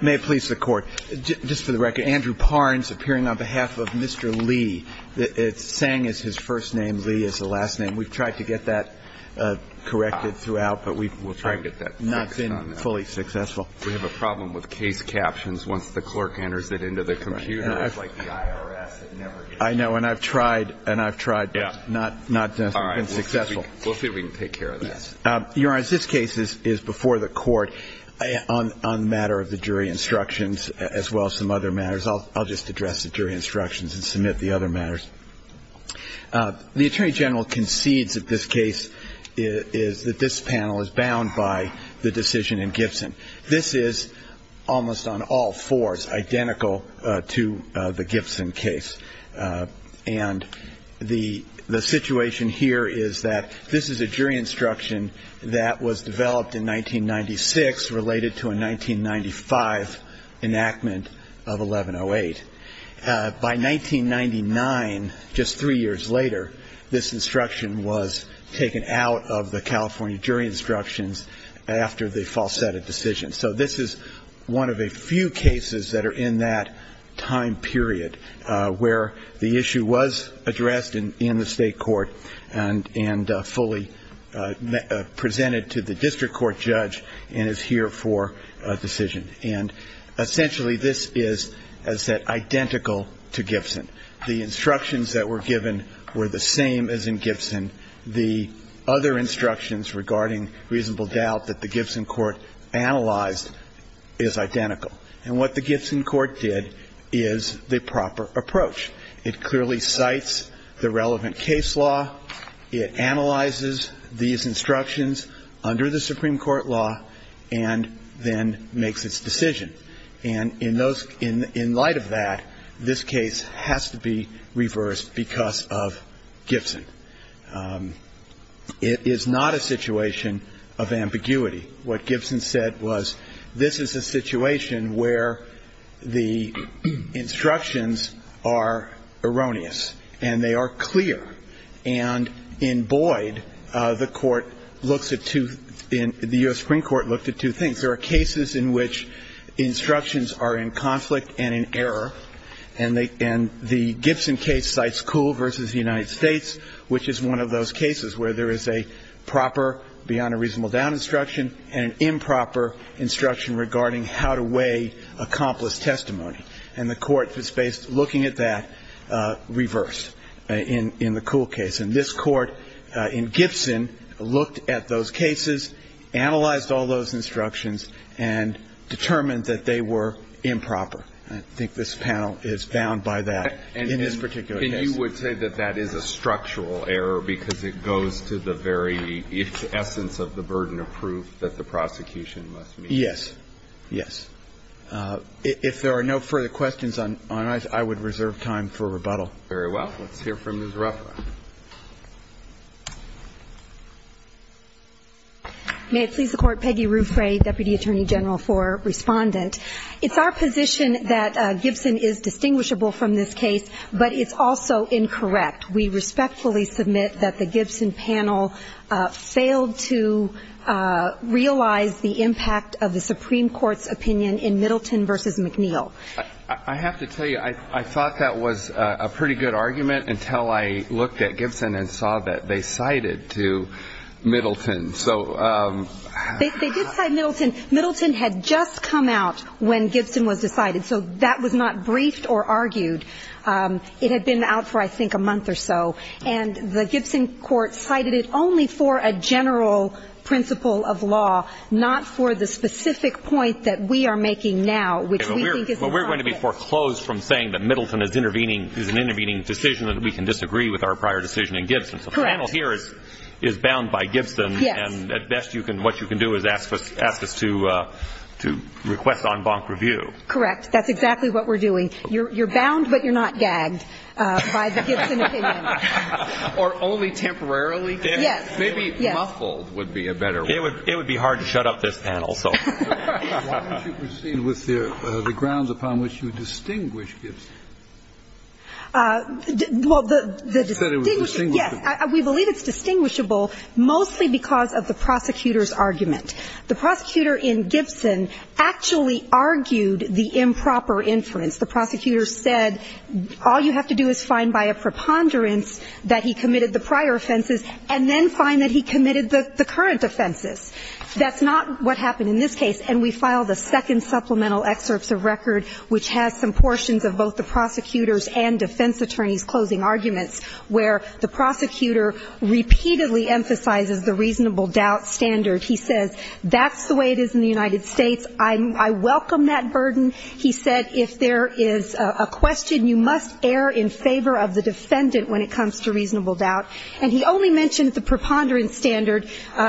May it please the Court, just for the record, Andrew Parnes appearing on behalf of Mr. Lee. It's saying is his first name, Lee is the last name. We've tried to get that corrected throughout, but we've not been fully successful. We have a problem with case captions once the clerk enters it into the computer. It's like the IRS. I know, and I've tried, and I've tried, but not been successful. We'll see if we can take care of that. Your Honor, this case is before the Court on the matter of the jury instructions as well as some other matters. I'll just address the jury instructions and submit the other matters. The Attorney General concedes that this case is that this panel is bound by the decision in Gibson. This is almost on all fours identical to the Gibson case, and the situation here is that this is a jury instruction that was developed in 1996 related to a 1995 enactment of 1108. By 1999, just three years later, this instruction was taken out of the California jury instructions after the falsetto decision. So this is one of a few cases that are in that time period where the issue was addressed in the State Court and fully presented to the district court judge and is here for a decision. And essentially, this is, as I said, identical to Gibson. The instructions that were given were the same as in Gibson. The other instructions regarding reasonable doubt that the Gibson court analyzed is identical. And what the Gibson court did is the proper approach. It clearly cites the relevant case law. It analyzes these instructions under the Supreme Court law and then makes its decision. And in light of that, this case has to be reversed because of Gibson. It is not a situation of ambiguity. What Gibson said was this is a situation where the instructions are erroneous and they are clear. And in Boyd, the court looks at two, the U.S. Supreme Court looked at two things. There are cases in which instructions are in conflict and in error. And the Gibson case cites Kuhl versus the United States, which is one of those cases where there is a proper beyond a reasonable doubt instruction and an improper instruction regarding how to weigh accomplished testimony. And the court was based, looking at that, reversed in the Kuhl case. And this court in Gibson looked at those cases, analyzed all those instructions, and determined that they were improper. I think this panel is bound by that in this particular case. And you would say that that is a structural error because it goes to the very essence of the burden of proof that the prosecution must meet? Yes. Yes. If there are no further questions on it, I would reserve time for rebuttal. Very well. Let's hear from Ms. Ruffer. May it please the Court, Peggy Ruffray, Deputy Attorney General for Respondent. It's our position that Gibson is distinguishable from this case, but it's also incorrect. We respectfully submit that the Gibson panel failed to realize the impact of the Supreme Court's opinion in Middleton versus McNeil. I have to tell you, I thought that was a pretty good argument until I looked at Gibson and saw that they cited to Middleton. So... They did cite Middleton. Middleton had just come out when Gibson was decided. So that was not briefed or argued. It had been out for, I think, a month or so. And the Gibson court cited it only for a general principle of law, not for the specific point that we are making now, which we think is incompetent. But we're going to be foreclosed from saying that Middleton is intervening, is an intervening decision, and we can disagree with our prior decision in Gibson. So the panel here is bound by Gibson. Yes. And at best, what you can do is ask us to request en banc review. Correct. That's exactly what we're doing. You're bound, but you're not gagged by the Gibson opinion. Or only temporarily gagged. Yes. Maybe muffled would be a better word. It would be hard to shut up this panel, so. Why don't you proceed with the grounds upon which you distinguish Gibson? Well, the distinguishable, yes. I think it's important to note that this is a case of the prosecutor's argument. The prosecutor in Gibson actually argued the improper inference. The prosecutor said, all you have to do is find by a preponderance that he committed the prior offenses and then find that he committed the current offenses. That's not what happened in this case, and we filed a second supplemental excerpts of record which has some portions of both the prosecutor's and defense attorney's closing arguments, where the prosecutor repeatedly emphasizes the reasonable doubt standard. He says, that's the way it is in the United States. I welcome that burden. He said, if there is a question, you must err in favor of the defendant when it comes to reasonable doubt. And he only mentioned the preponderance standard.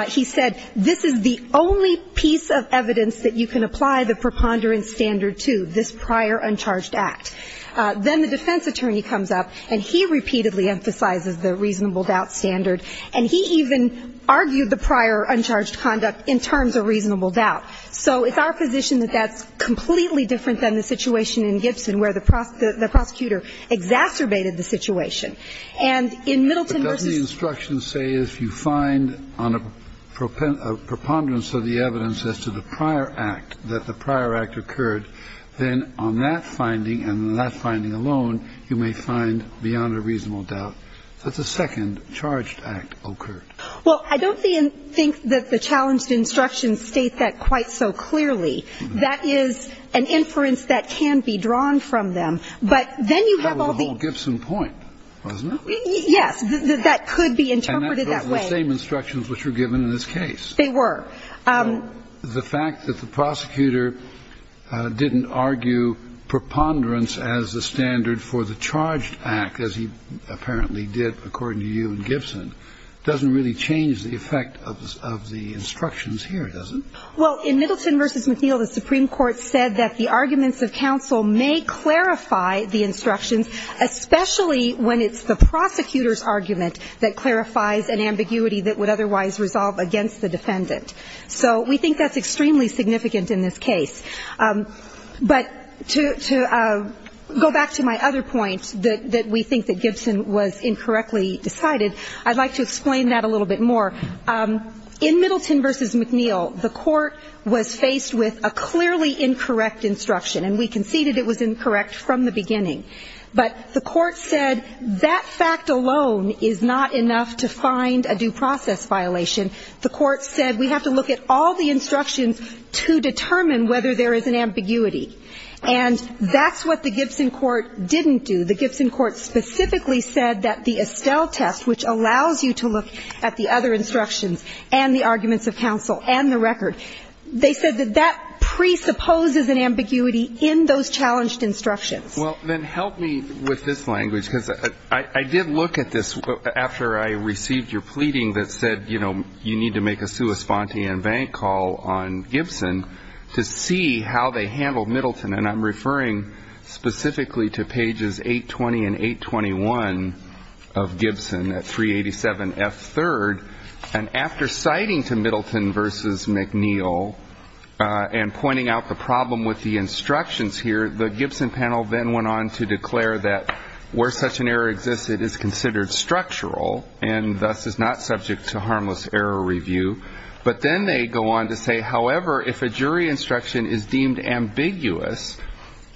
He said, this is the only piece of evidence that you can apply the preponderance standard to, this prior uncharged act. Then the defense attorney comes up, and he repeatedly emphasizes the reasonable doubt standard. And he even argued the prior uncharged conduct in terms of reasonable doubt. So it's our position that that's completely different than the situation in Gibson, where the prosecutor exacerbated the situation. And in Middleton v. But doesn't the instruction say, if you find on a preponderance of the evidence as to the prior act, that the prior act occurred, then on that finding and on that finding alone, you may find beyond a reasonable doubt that the second charged act occurred? Well, I don't think that the challenged instructions state that quite so clearly. That is an inference that can be drawn from them. But then you have all the other things. That was the whole Gibson point, wasn't it? Yes. That could be interpreted that way. And that's the same instructions which were given in this case. They were. The fact that the prosecutor didn't argue preponderance as the standard for the charged act, as he apparently did according to you in Gibson, doesn't really change the effect of the instructions here, does it? Well, in Middleton v. McNeil, the Supreme Court said that the arguments of counsel may clarify the instructions, especially when it's the prosecutor's argument that clarifies an ambiguity that would otherwise resolve against the defendant. So we think that's extremely significant in this case. But to go back to my other point, that we think that Gibson was incorrectly decided, I'd like to explain that a little bit more. In Middleton v. McNeil, the court was faced with a clearly incorrect instruction. And we conceded it was incorrect from the beginning. But the court said that fact alone is not enough to find a due process violation. The court said we have to look at all the instructions to determine whether there is an ambiguity. And that's what the Gibson court didn't do. The Gibson court specifically said that the Estelle test, which allows you to look at the other instructions and the arguments of counsel and the record, they said that that presupposes an ambiguity in those challenged instructions. Well, then help me with this language, because I did look at this after I received your pleading that said you need to make a sua sponte and bank call on Gibson to see how they handled Middleton. And I'm referring specifically to pages 820 and 821 of Gibson at 387F3rd. And after citing to Middleton v. McNeil and pointing out the problem with the instructions here, the Gibson panel then went on to declare that where such an error existed is considered structural and thus is not subject to harmless error review. But then they go on to say, however, if a jury instruction is deemed ambiguous,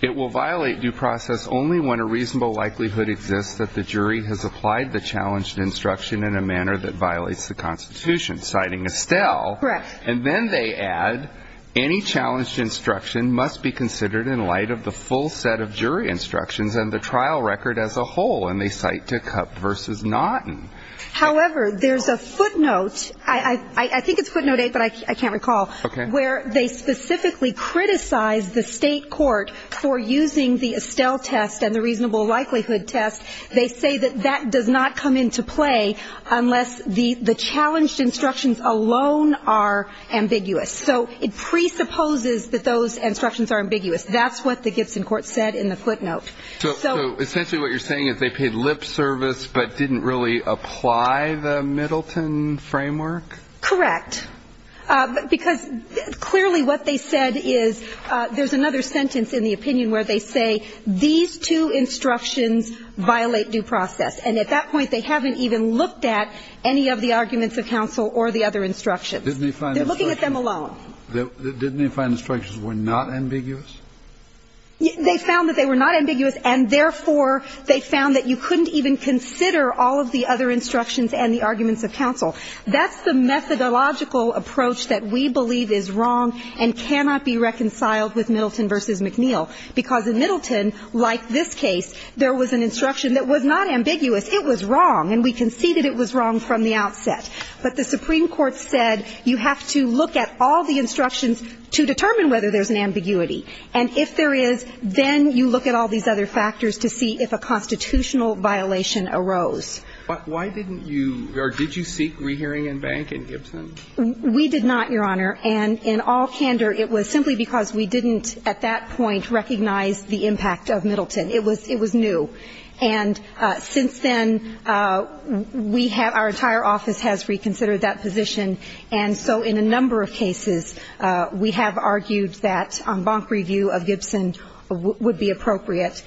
it will violate due process only when a reasonable likelihood exists that the jury has applied the challenged instruction in a manner that violates the Constitution, citing Estelle. Correct. And then they add any challenged instruction must be considered in light of the full set of jury instructions and the trial record as a whole. And they cite to Cupp v. Naughton. However, there's a footnote. I think it's footnote 8, but I can't recall. Okay. Where they specifically criticize the state court for using the Estelle test and the reasonable likelihood test. They say that that does not come into play unless the challenged instructions alone are ambiguous. So it presupposes that those instructions are ambiguous. That's what the Gibson court said in the footnote. So essentially what you're saying is they paid lip service but didn't really apply the Middleton framework? Correct. Because clearly what they said is there's another sentence in the opinion where they say these two instructions violate due process. And at that point, they haven't even looked at any of the arguments of counsel or the other instructions. They're looking at them alone. Didn't they find instructions were not ambiguous? They found that they were not ambiguous, and therefore, they found that you couldn't even consider all of the other instructions and the arguments of counsel. That's the methodological approach that we believe is wrong and cannot be reconciled with Middleton v. McNeil, because in Middleton, like this case, there was an instruction that was not ambiguous. It was wrong. And we can see that it was wrong from the outset. But the Supreme Court said you have to look at all the instructions to determine whether there's an ambiguity. And if there is, then you look at all these other factors to see if a constitutional violation arose. But why didn't you or did you seek rehearing in bank in Gibson? We did not, Your Honor. And in all candor, it was simply because we didn't at that point recognize the impact of Middleton. It was new. And since then, we have – our entire office has reconsidered that position. And so in a number of cases, we have argued that en banc review of Gibson would be appropriate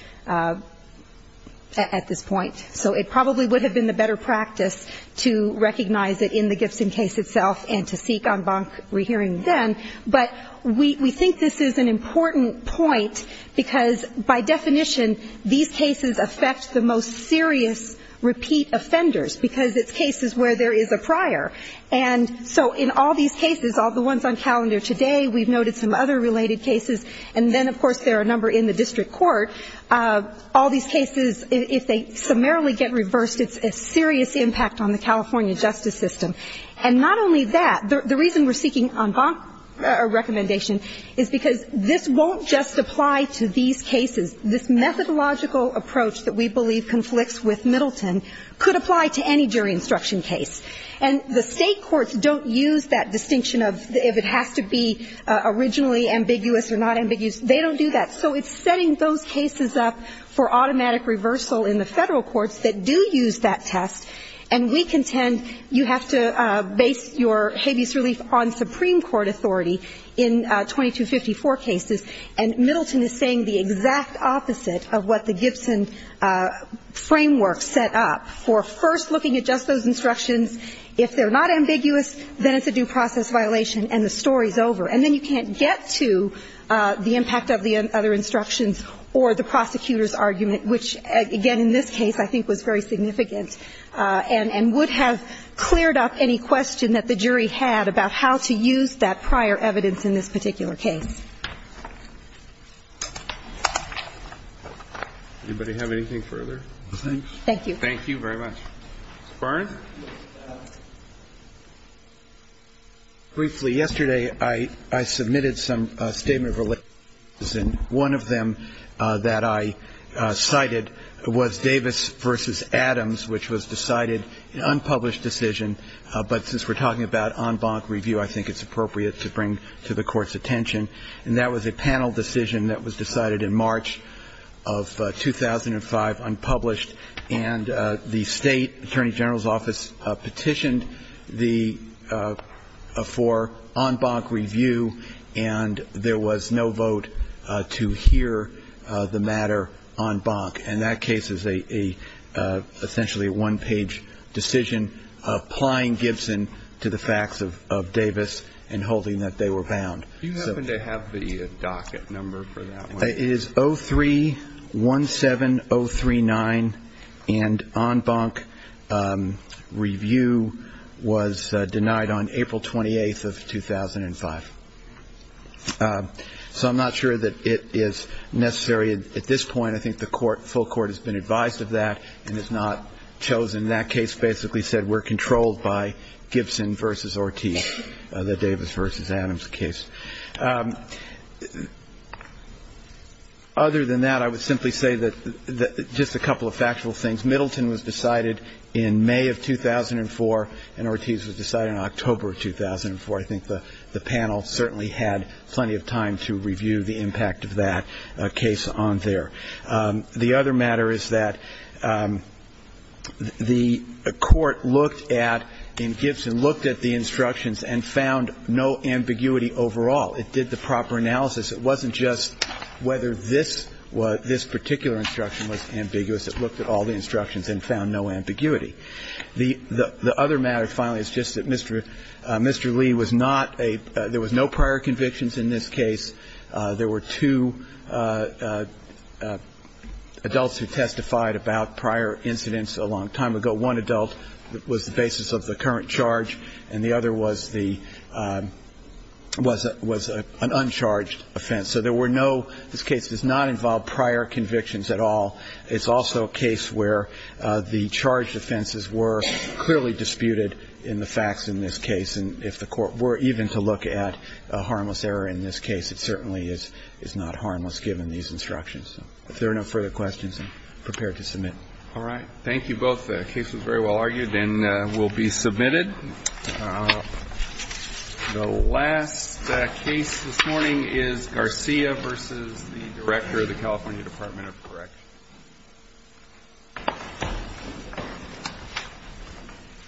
at this point. So it probably would have been the better practice to recognize it in the Gibson case itself and to seek en banc rehearing then. But we think this is an important point because, by definition, these cases affect the most serious repeat offenders because it's cases where there is a prior. And so in all these cases, all the ones on calendar today, we've noted some other related cases. And then, of course, there are a number in the district court. All these cases, if they summarily get reversed, it's a serious impact on the California justice system. And not only that, the reason we're seeking en banc recommendation is because this won't just apply to these cases. This methodological approach that we believe conflicts with Middleton could apply to any jury instruction case. And the State courts don't use that distinction of if it has to be originally ambiguous or not ambiguous. They don't do that. So it's setting those cases up for automatic reversal in the Federal courts that do use that test. And we contend you have to base your habeas relief on Supreme Court authority in 2254 cases. And Middleton is saying the exact opposite of what the Gibson framework set up for first looking at just those instructions. If they're not ambiguous, then it's a due process violation and the story is over. And then you can't get to the impact of the other instructions or the prosecutor's And would have cleared up any question that the jury had about how to use that prior evidence in this particular case. Anybody have anything further? Thank you. Thank you very much. Mr. Barron. Briefly, yesterday I submitted some statement of relations. And one of them that I cited was Davis v. Adams, which was decided, an unpublished decision, but since we're talking about en banc review, I think it's appropriate to bring to the Court's attention. And that was a panel decision that was decided in March of 2005, unpublished. And the State Attorney General's Office petitioned for en banc review, and there was no vote to hear the matter en banc. And that case is essentially a one-page decision applying Gibson to the facts of Davis and holding that they were bound. Do you happen to have the docket number for that one? It is 03-17039. And en banc review was denied on April 28th of 2005. So I'm not sure that it is necessary at this point. I think the full Court has been advised of that and has not chosen. That case basically said we're controlled by Gibson v. Ortiz, the Davis v. Adams case. Other than that, I would simply say that just a couple of factual things. Middleton was decided in May of 2004, and Ortiz was decided in October of 2004. I think the panel certainly had plenty of time to review the impact of that case on there. The other matter is that the Court looked at, in Gibson, looked at the instructions and found no ambiguity overall. It did the proper analysis. It wasn't just whether this particular instruction was ambiguous. It looked at all the instructions and found no ambiguity. The other matter, finally, is just that Mr. Lee was not a – there was no prior convictions in this case. There were two adults who testified about prior incidents a long time ago. One adult was the basis of the current charge, and the other was the – was an uncharged offense. So there were no – this case does not involve prior convictions at all. It's also a case where the charged offenses were clearly disputed in the facts in this case, and if the Court were even to look at a harmless error in this case, it certainly is not harmless given these instructions. If there are no further questions, I'm prepared to submit. All right. Thank you both. The case was very well argued and will be submitted. The last case this morning is Garcia v. the Director of the California Department of Corrections.